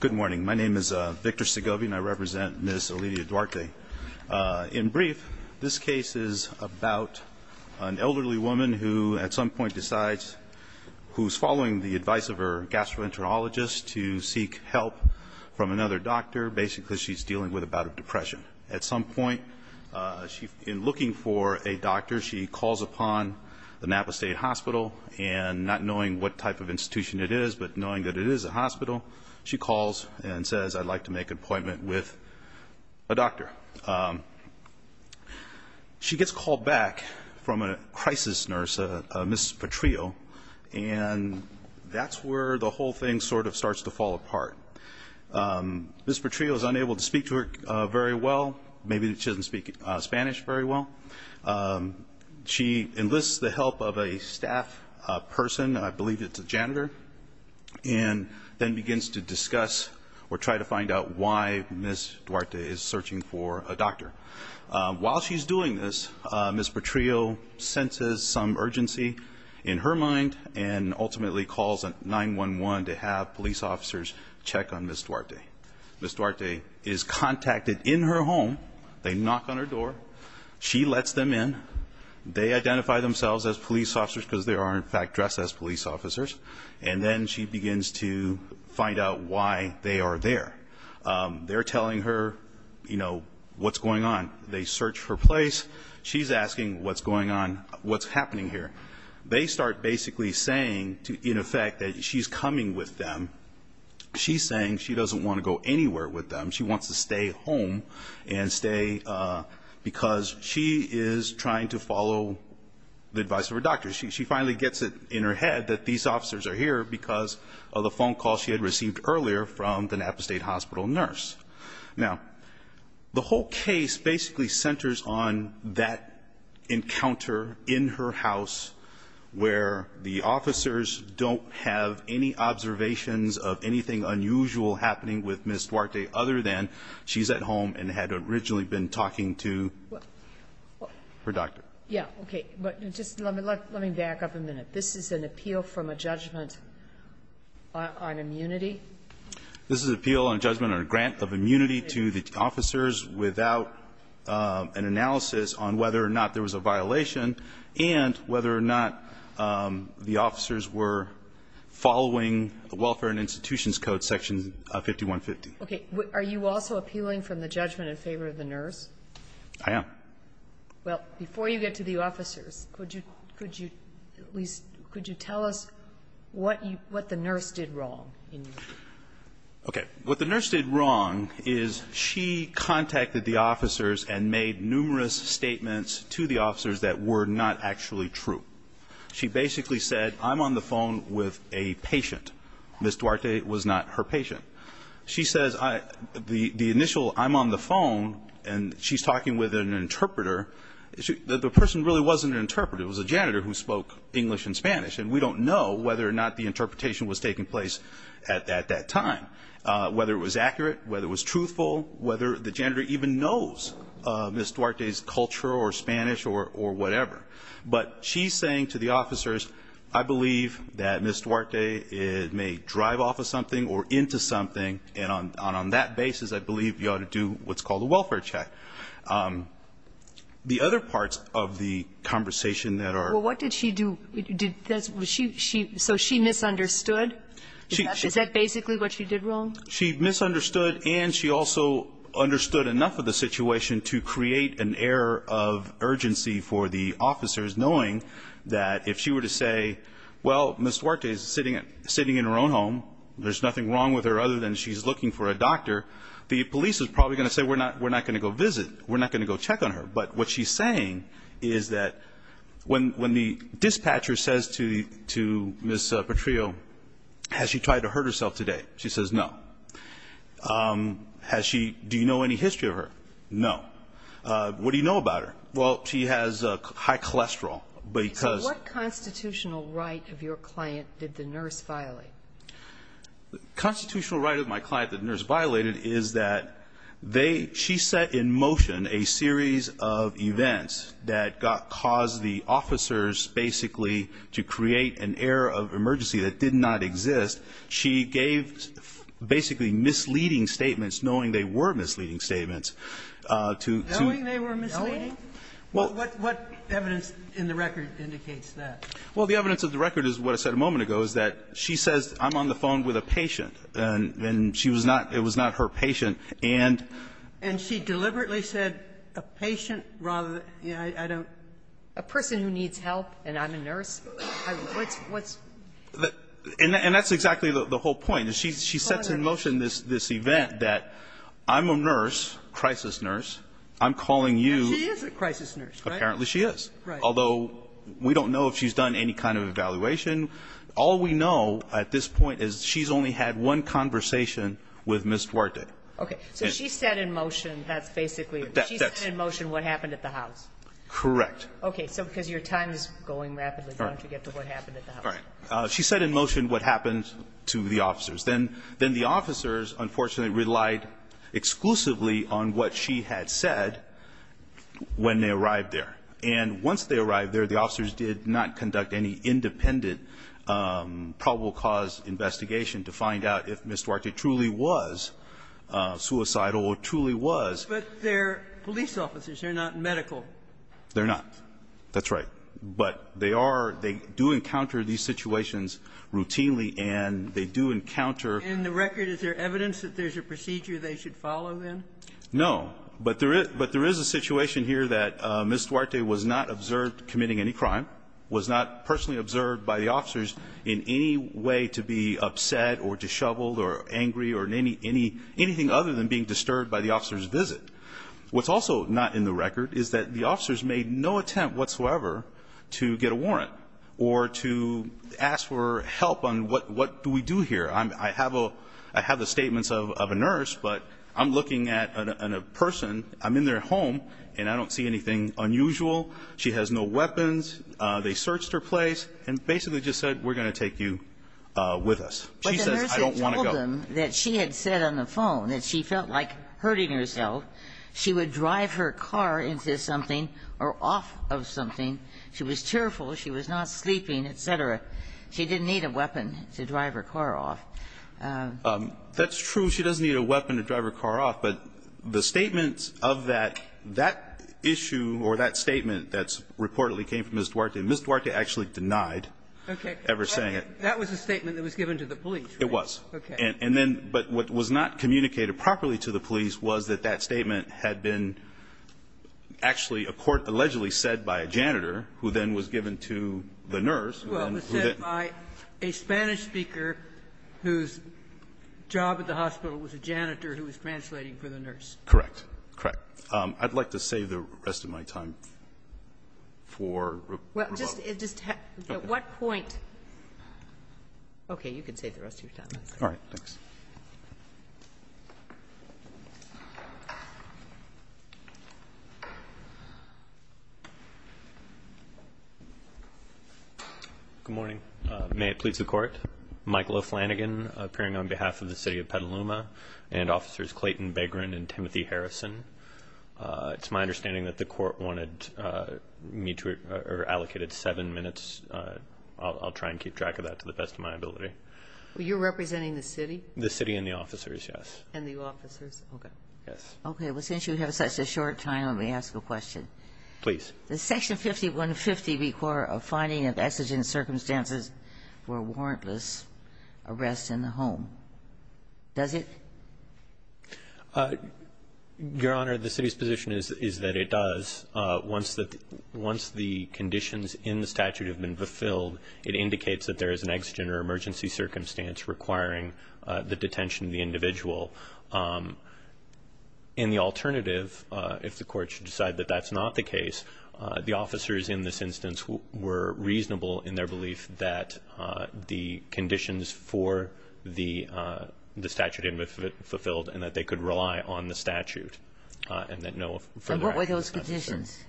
Good morning. My name is Victor Segovia and I represent Ms. Olivia Duarte. In brief, this case is about an elderly woman who at some point decides, who's following the advice of her gastroenterologist to seek help from another doctor. Basically, she's dealing with a bout of depression. At some point, in looking for a doctor, she calls upon the Napa State Hospital, and not knowing what type of institution it is, but knowing that it is a hospital, she calls and says, I'd like to make an appointment with a doctor. She gets called back from a crisis nurse, Ms. Petrillo, and that's where the whole thing sort of starts to fall apart. Ms. Petrillo is unable to speak to her very well. Maybe she doesn't speak Spanish very well. She enlists the help of a staff person, I believe it's a janitor, and then begins to discuss or try to find out why Ms. Duarte is searching for a doctor. While she's doing this, Ms. Petrillo senses some urgency in her mind and ultimately calls 911 to have police officers check on Ms. Duarte. Ms. Duarte is contacted in her home. They knock on her door. She lets them in. They identify themselves as police officers because they are, in fact, dressed as police officers, and then she begins to find out why they are there. They're telling her, you know, what's going on. They search her place. She's asking what's going on, what's happening here. They start basically saying, in effect, that she's coming with them. She's saying she doesn't want to go anywhere with them. She wants to stay home and stay because she is trying to follow the advice of her doctor. She finally gets it in her head that these officers are here because of the phone call she had received earlier from the Napa State Hospital nurse. Now, the whole case basically centers on that encounter in her house where the officers don't have any observations of anything unusual happening with Ms. Duarte other than she's at home and had originally been talking to her doctor. Yeah, okay. But just let me back up a minute. This is an appeal from a judgment on immunity? This is an appeal on judgment on a grant of immunity to the officers without an analysis on whether or not there was a violation and whether or not the officers were following the Welfare and Institutions Code, Section 5150. Okay. Are you also appealing from the judgment in favor of the nurse? I am. Well, before you get to the officers, could you tell us what the nurse did wrong? Okay. What the nurse did wrong is she contacted the officers and made numerous statements to the officers that were not actually true. She basically said, I'm on the phone with a patient. Ms. Duarte was not her patient. She says the initial, I'm on the phone, and she's talking with an interpreter. The person really wasn't an interpreter. It was a janitor who spoke English and Spanish, and we don't know whether or not the interpretation was taking place at that time, whether it was accurate, whether it was truthful, whether the janitor even knows Ms. Duarte's culture or Spanish or whatever. But she's saying to the officers, I believe that Ms. Duarte may drive off of something or into something, and on that basis I believe you ought to do what's called a welfare check. The other parts of the conversation that are ---- Well, what did she do? So she misunderstood? Is that basically what she did wrong? She misunderstood, and she also understood enough of the situation to create an air of urgency for the officers, knowing that if she were to say, well, Ms. Duarte is sitting in her own home, there's nothing wrong with her other than she's looking for a doctor, the police is probably going to say we're not going to go visit, we're not going to go check on her. But what she's saying is that when the dispatcher says to Ms. Petrillo, has she tried to hurt herself today? She says no. Has she ---- Do you know any history of her? No. What do you know about her? Well, she has high cholesterol because ---- So what constitutional right of your client did the nurse violate? The constitutional right of my client that the nurse violated is that they ---- she set in motion a series of events that caused the officers basically to create an air of emergency that did not exist. She gave basically misleading statements, knowing they were misleading statements, to ---- Knowing they were misleading? What evidence in the record indicates that? Well, the evidence of the record is what I said a moment ago, is that she says, I'm on the phone with a patient, and she was not ---- it was not her patient, and ---- And she deliberately said a patient rather than ---- I don't ---- A person who needs help and I'm a nurse? What's ---- And that's exactly the whole point. She sets in motion this event that I'm a nurse, crisis nurse, I'm calling you ---- She is a crisis nurse, right? Apparently she is. Right. Although we don't know if she's done any kind of evaluation. All we know at this point is she's only had one conversation with Ms. Duarte. Okay. So she set in motion that's basically ---- That's ---- She set in motion what happened at the house? Okay. So because your time is going rapidly, why don't you get to what happened at the house? All right. She set in motion what happened to the officers. Then the officers, unfortunately, relied exclusively on what she had said when they arrived there. And once they arrived there, the officers did not conduct any independent probable cause investigation to find out if Ms. Duarte truly was suicidal or truly was. But they're police officers. They're not medical. They're not. That's right. But they are ---- they do encounter these situations routinely, and they do encounter ---- In the record, is there evidence that there's a procedure they should follow, then? No. But there is a situation here that Ms. Duarte was not observed committing any crime, was not personally observed by the officers in any way to be upset or disheveled or angry or in any ---- anything other than being disturbed by the officers' visit. What's also not in the record is that the officers made no attempt whatsoever to get a warrant or to ask for help on what do we do here. I have a ---- I have the statements of a nurse, but I'm looking at a person. I'm in their home, and I don't see anything unusual. She has no weapons. They searched her place and basically just said, we're going to take you with us. She says, I don't want to go. And I told them that she had said on the phone that she felt like hurting herself. She would drive her car into something or off of something. She was tearful. She was not sleeping, et cetera. She didn't need a weapon to drive her car off. That's true. She doesn't need a weapon to drive her car off. But the statements of that, that issue or that statement that's reportedly came from Ms. Duarte, and Ms. Duarte actually denied ever saying it. That was a statement that was given to the police, right? And then what was not communicated properly to the police was that that statement had been actually a court allegedly said by a janitor, who then was given to the nurse, who then ---- Sotomayor, a Spanish speaker whose job at the hospital was a janitor who was translating for the nurse. Correct. Correct. I'd like to save the rest of my time for rebuttal. Well, just at what point ---- okay. You can save the rest of your time. All right. Thanks. Good morning. May it please the Court, Michael O'Flanagan appearing on behalf of the City of Petaluma and Officers Clayton Begrin and Timothy Harrison. It's my understanding that the Court wanted me to ---- or allocated seven minutes. I'll try and keep track of that to the best of my ability. Well, you're representing the city? The city and the officers, yes. And the officers. Okay. Yes. Okay. Well, since you have such a short time, let me ask a question. Please. Does Section 5150 require a finding of exigent circumstances for warrantless arrest in the home? Does it? Your Honor, the city's position is that it does. Once the conditions in the statute have been fulfilled, it indicates that there was an exigent policy circumstance requiring the detention of the individual. And the alternative, if the Court should decide that that's not the case, the officers in this instance were reasonable in their belief that the conditions for the statute had been fulfilled and that they could rely on the statute and that no further action was necessary. And what were those conditions?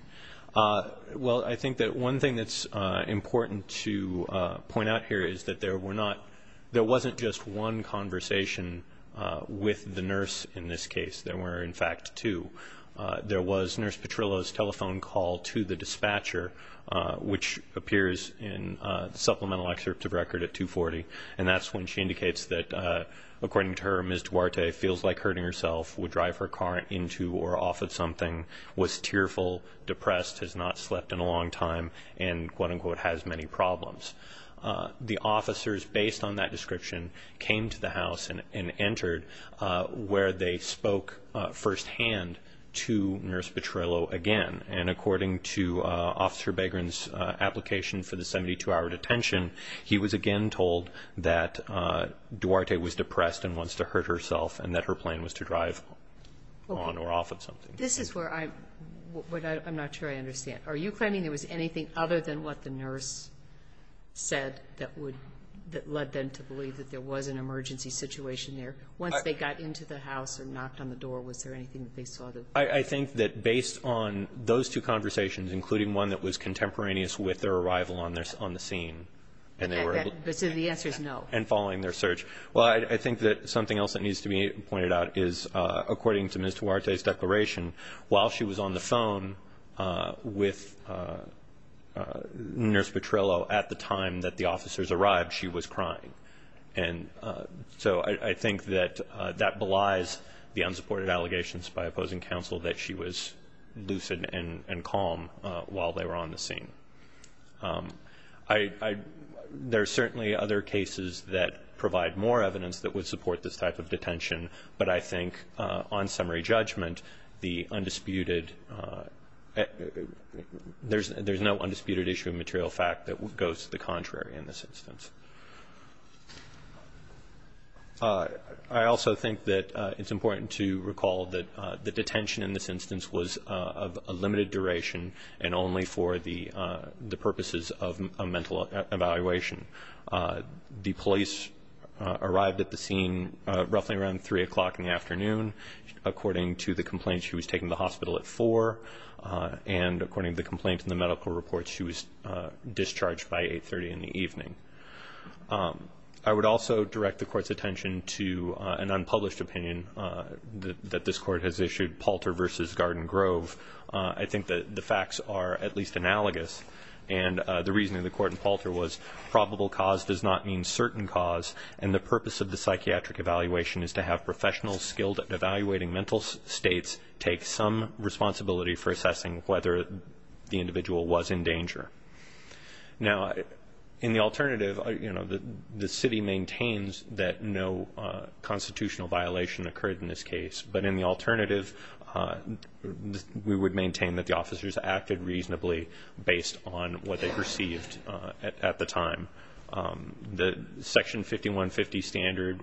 Well, I think that one thing that's important to point out here is that there wasn't just one conversation with the nurse in this case. There were, in fact, two. There was Nurse Petrillo's telephone call to the dispatcher, which appears in the supplemental excerpt of record at 240, and that's when she indicates that, according to her, Ms. Duarte feels like hurting herself, would drive her car into or off of something, was tearful, depressed, has not slept in a long time, and, quote-unquote, has many problems. The officers, based on that description, came to the house and entered where they spoke firsthand to Nurse Petrillo again. And according to Officer Begrin's application for the 72-hour detention, he was again told that Duarte was depressed and wants to hurt herself and that her plan was to drive on or off of something. This is where I'm not sure I understand. Are you claiming there was anything other than what the nurse said that led them to believe that there was an emergency situation there? Once they got into the house or knocked on the door, was there anything they saw? I think that based on those two conversations, including one that was contemporaneous with their arrival on the scene, and following their search. Well, I think that something else that needs to be pointed out is, according to Ms. Duarte's declaration, while she was on the phone with Nurse Petrillo at the time that the officers arrived, she was crying. And so I think that that belies the unsupported allegations by opposing counsel that she was lucid and calm while they were on the scene. There are certainly other cases that provide more evidence that would support this type of detention, but I think on summary judgment there's no undisputed issue of material fact that goes to the contrary in this instance. I also think that it's important to recall that the detention in this instance was of a limited duration and only for the purposes of a mental evaluation. The police arrived at the scene roughly around 3 o'clock in the afternoon. According to the complaints, she was taken to the hospital at 4, and according to the complaints and the medical reports, she was discharged by 8.30 in the evening. I would also direct the Court's attention to an unpublished opinion that this Court has issued, Palter v. Garden Grove. I think that the facts are at least analogous, and the reasoning of the Court in Palter was probable cause does not mean certain cause, and the purpose of the psychiatric evaluation is to have professionals skilled at evaluating mental states take some responsibility for assessing whether the individual was in danger. Now, in the alternative, you know, the city maintains that no constitutional violation occurred in this case, but in the alternative we would maintain that the officers acted reasonably based on what they received at the time. The Section 5150 standard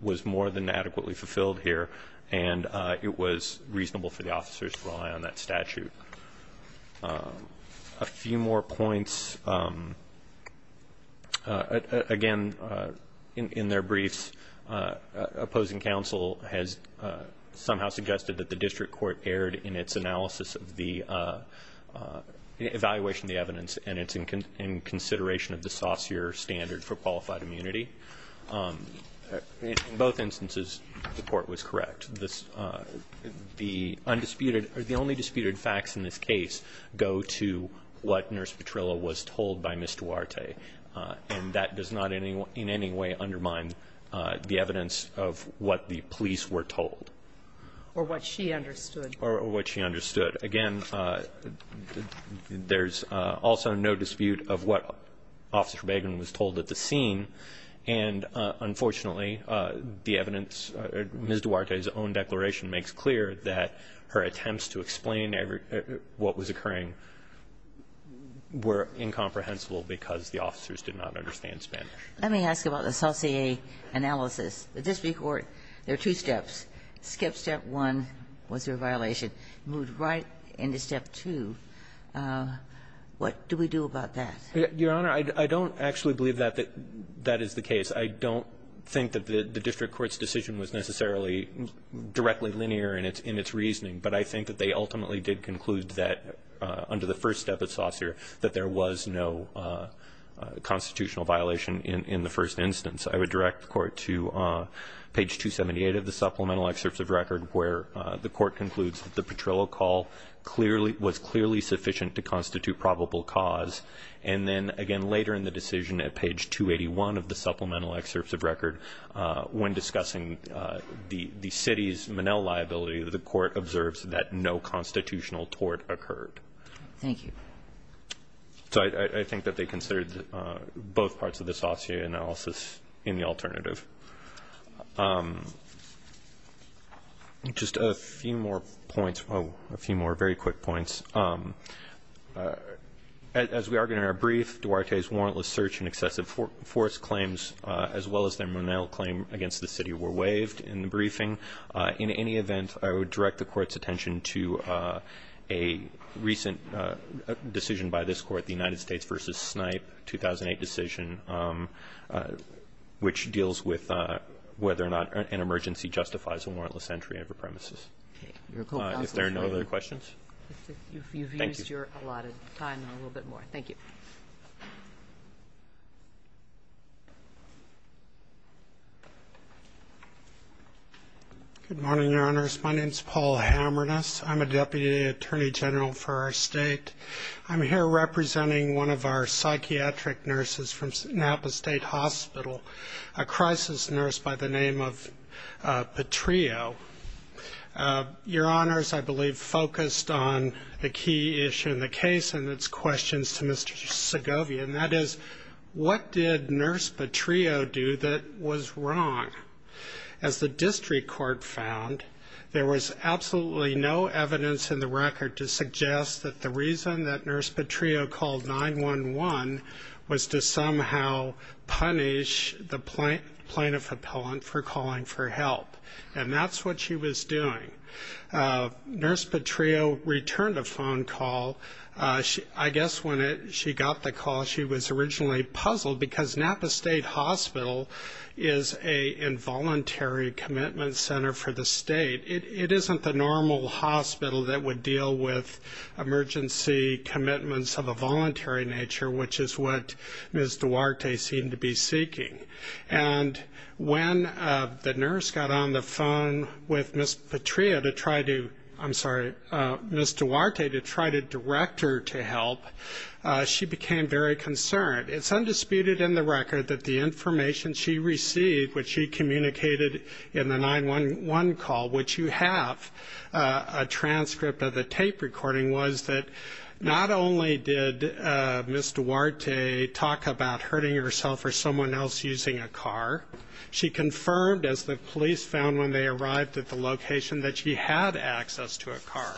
was more than adequately fulfilled here, and it was reasonable for the officers to rely on that statute. A few more points. Again, in their briefs, opposing counsel has somehow suggested that the district court erred in its analysis of the evaluation of the evidence, and it's in consideration of the saucier standard for qualified immunity. In both instances, the Court was correct. The only disputed facts in this case go to what Nurse Petrillo was told by Ms. Duarte, and that does not in any way undermine the evidence of what the police were told. Or what she understood. Or what she understood. Again, there's also no dispute of what Officer Bagen was told at the scene, and, unfortunately, the evidence, Ms. Duarte's own declaration makes clear that her attempts to explain what was occurring were incomprehensible because the officers did not understand Spanish. Let me ask about the saucier analysis. The district court, there are two steps. Skip step one, was there a violation. Moved right into step two. What do we do about that? Your Honor, I don't actually believe that that is the case. I don't think that the district court's decision was necessarily directly linear in its reasoning. But I think that they ultimately did conclude that under the first step of saucier that there was no constitutional violation in the first instance. I would direct the Court to page 278 of the supplemental excerpts of record where the Court concludes that the Petrillo call clearly was clearly sufficient to constitute a probable cause, and then, again, later in the decision at page 281 of the supplemental excerpts of record, when discussing the city's Manel liability, the Court observes that no constitutional tort occurred. Thank you. So I think that they considered both parts of the saucier analysis in the alternative. Just a few more points, a few more very quick points. As we argued in our brief, Duarte's warrantless search and excessive force claims, as well as their Manel claim against the city, were waived in the briefing. In any event, I would direct the Court's attention to a recent decision by this Court, the United States v. Snipe 2008 decision, which deals with whether or not an emergency justifies a warrantless entry of a premises. If there are no other questions? Thank you. You've used your allotted time a little bit more. Thank you. Good morning, Your Honors. My name is Paul Hamernas. I'm a Deputy Attorney General for our State. I'm here representing one of our psychiatric nurses from Napa State Hospital, a crisis nurse by the name of Petrillo. Your Honors, I believe, focused on the key issue in the case and its questions to Mr. Segovia, and that is what did Nurse Petrillo do that was wrong? As the district court found, there was absolutely no evidence in the record to suggest that the reason that Nurse Petrillo called 911 was to somehow punish the plaintiff appellant for calling for help, and that's what she was doing. Nurse Petrillo returned a phone call. I guess when she got the call, she was originally puzzled, because Napa State Hospital is an involuntary commitment center for the State. It isn't the normal hospital that would deal with emergency commitments of a voluntary nature, which is what Ms. Duarte seemed to be seeking. And when the nurse got on the phone with Ms. Petrillo to try to, I'm sorry, Ms. Duarte to try to direct her to help, she became very concerned. It's undisputed in the record that the information she received, which she communicated in the 911 call, which you have a transcript of the tape recording, was that not only did Ms. Duarte talk about hurting herself or someone else using a car, she confirmed, as the police found when they arrived at the location, that she had access to a car.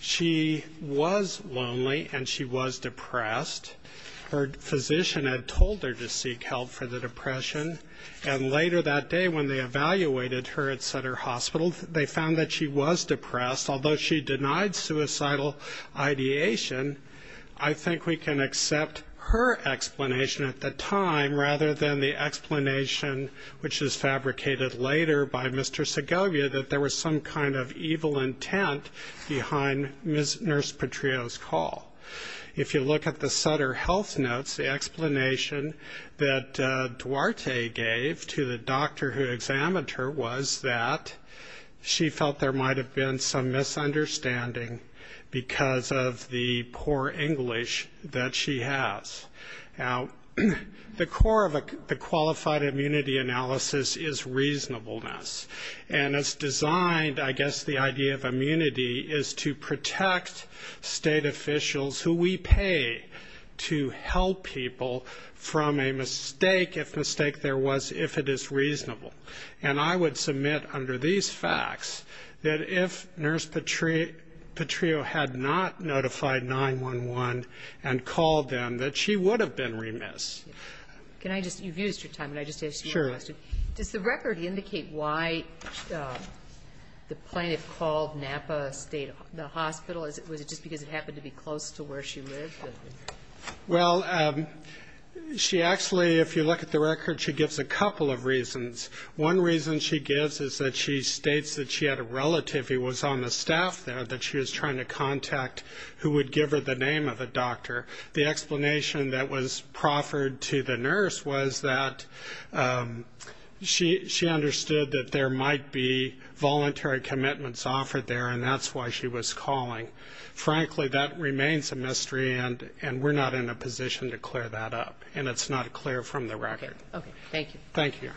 She was lonely and she was depressed. Her physician had told her to seek help for the depression, and later that day when they evaluated her at Sutter Hospital, they found that she was depressed. Although she denied suicidal ideation, I think we can accept her explanation at the time, rather than the explanation, which is fabricated later by Mr. Segovia, that there was some kind of evil intent behind Nurse Petrillo's call. If you look at the Sutter health notes, the explanation that Duarte gave to the doctor who examined her was that she felt there might have been some misunderstanding because of the poor English that she has. Now, the core of the qualified immunity analysis is reasonableness, and it's designed, I guess, the idea of immunity is to protect state officials who we pay to help people from a mistake, if mistake there was, if it is reasonable. And I would submit under these facts that if Nurse Petrillo had not notified 911 and called them, that she would have been remiss. Can I just, you've used your time, can I just ask you a question? Sure. Does the record indicate why the plaintiff called Napa State Hospital? Was it just because it happened to be close to where she lived? Well, she actually, if you look at the record, she gives a couple of reasons. One reason she gives is that she states that she had a relative who was on the staff there that she was trying to contact who would give her the name of a doctor. The explanation that was proffered to the nurse was that she understood that there might be voluntary commitments offered there, and that's why she was calling. Frankly, that remains a mystery, and we're not in a position to clear that up, and it's not clear from the record. Okay. Thank you. Thank you.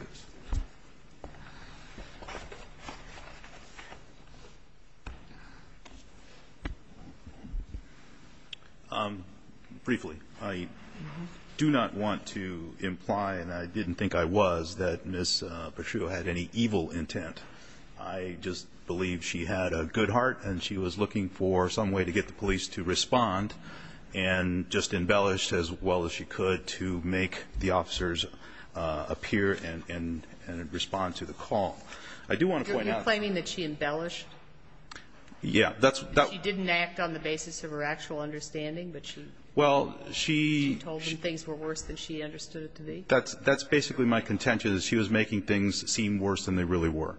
Briefly, I do not want to imply, and I didn't think I was, that Ms. Petrillo had any evil intent. I just believe she had a good heart, and she was looking for some way to get the police to respond and just embellished as well as she could to make the officers appear and respond to the call. I do want to point out. Are you claiming that she embellished? Yeah. She didn't act on the basis of her actual understanding, but she told them things were worse than she understood it to be? That's basically my contention, is she was making things seem worse than they really were.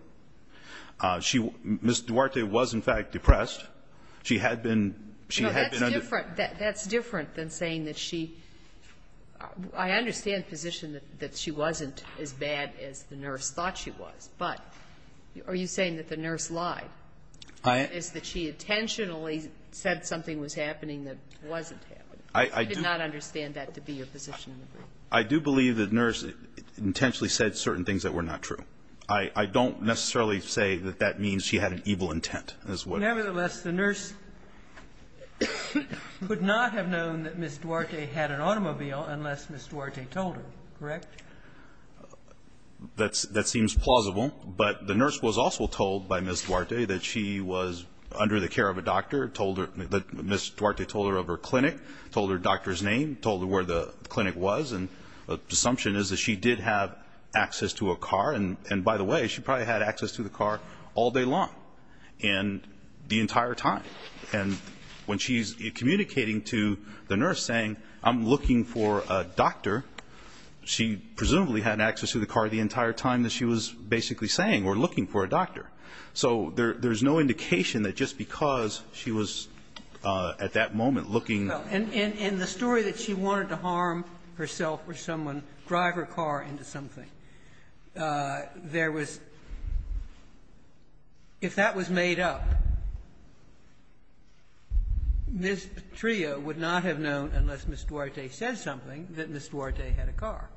Ms. Duarte was, in fact, depressed. She had been under ---- No, that's different. That's different than saying that she ---- I understand the position that she wasn't as bad as the nurse thought she was, but are you saying that the nurse lied? I ---- Is that she intentionally said something was happening that wasn't happening? I do ---- I did not understand that to be your position. I do believe the nurse intentionally said certain things that were not true. I don't necessarily say that that means she had an evil intent as well. Nevertheless, the nurse could not have known that Ms. Duarte had an automobile unless Ms. Duarte told her, correct? That seems plausible. But the nurse was also told by Ms. Duarte that she was under the care of a doctor, told her ---- Ms. Duarte told her of her clinic, told her doctor's name, told her where the clinic was, and the assumption is that she did have access to a car. And by the way, she probably had access to the car all day long and the entire time. And when she is communicating to the nurse saying, I'm looking for a doctor, she presumably had access to the car the entire time that she was basically saying, we're looking for a doctor. So there's no indication that just because she was at that moment looking ---- And the story that she wanted to harm herself or someone, drive her car into something, there was ---- if that was made up, Ms. Patria would not have known unless Ms. Duarte said something that Ms. Duarte had a car.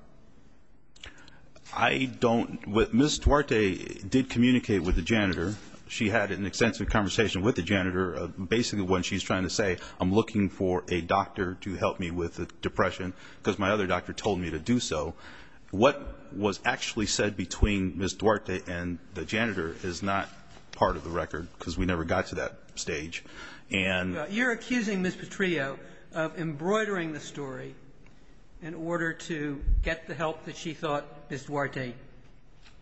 I don't ---- Ms. Duarte did communicate with the janitor. She had an extensive conversation with the janitor, basically when she's trying to say, I'm looking for a doctor to help me with the depression because my other doctor told me to do so. What was actually said between Ms. Duarte and the janitor is not part of the record because we never got to that stage. And ---- You're accusing Ms. Patria of embroidering the story in order to get the help that she thought Ms. Duarte needed.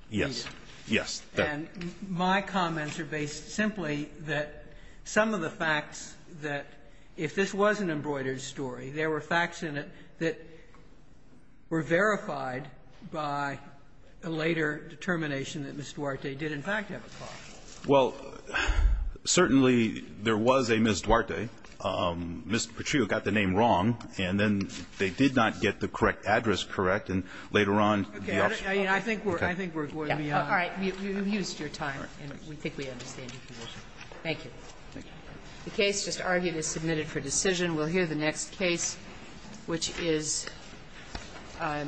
Yes. Yes. And my comments are based simply that some of the facts that if this was an embroidered story, there were facts in it that were verified by a later determination that Ms. Duarte did in fact have a car. Well, certainly there was a Ms. Duarte. Ms. Patria got the name wrong, and then they did not get the correct address correct, and later on the ---- Okay. I think we're going beyond that. All right. You've used your time, and we think we understand your position. Thank you. The case just argued is submitted for decision. We'll hear the next case, which is ----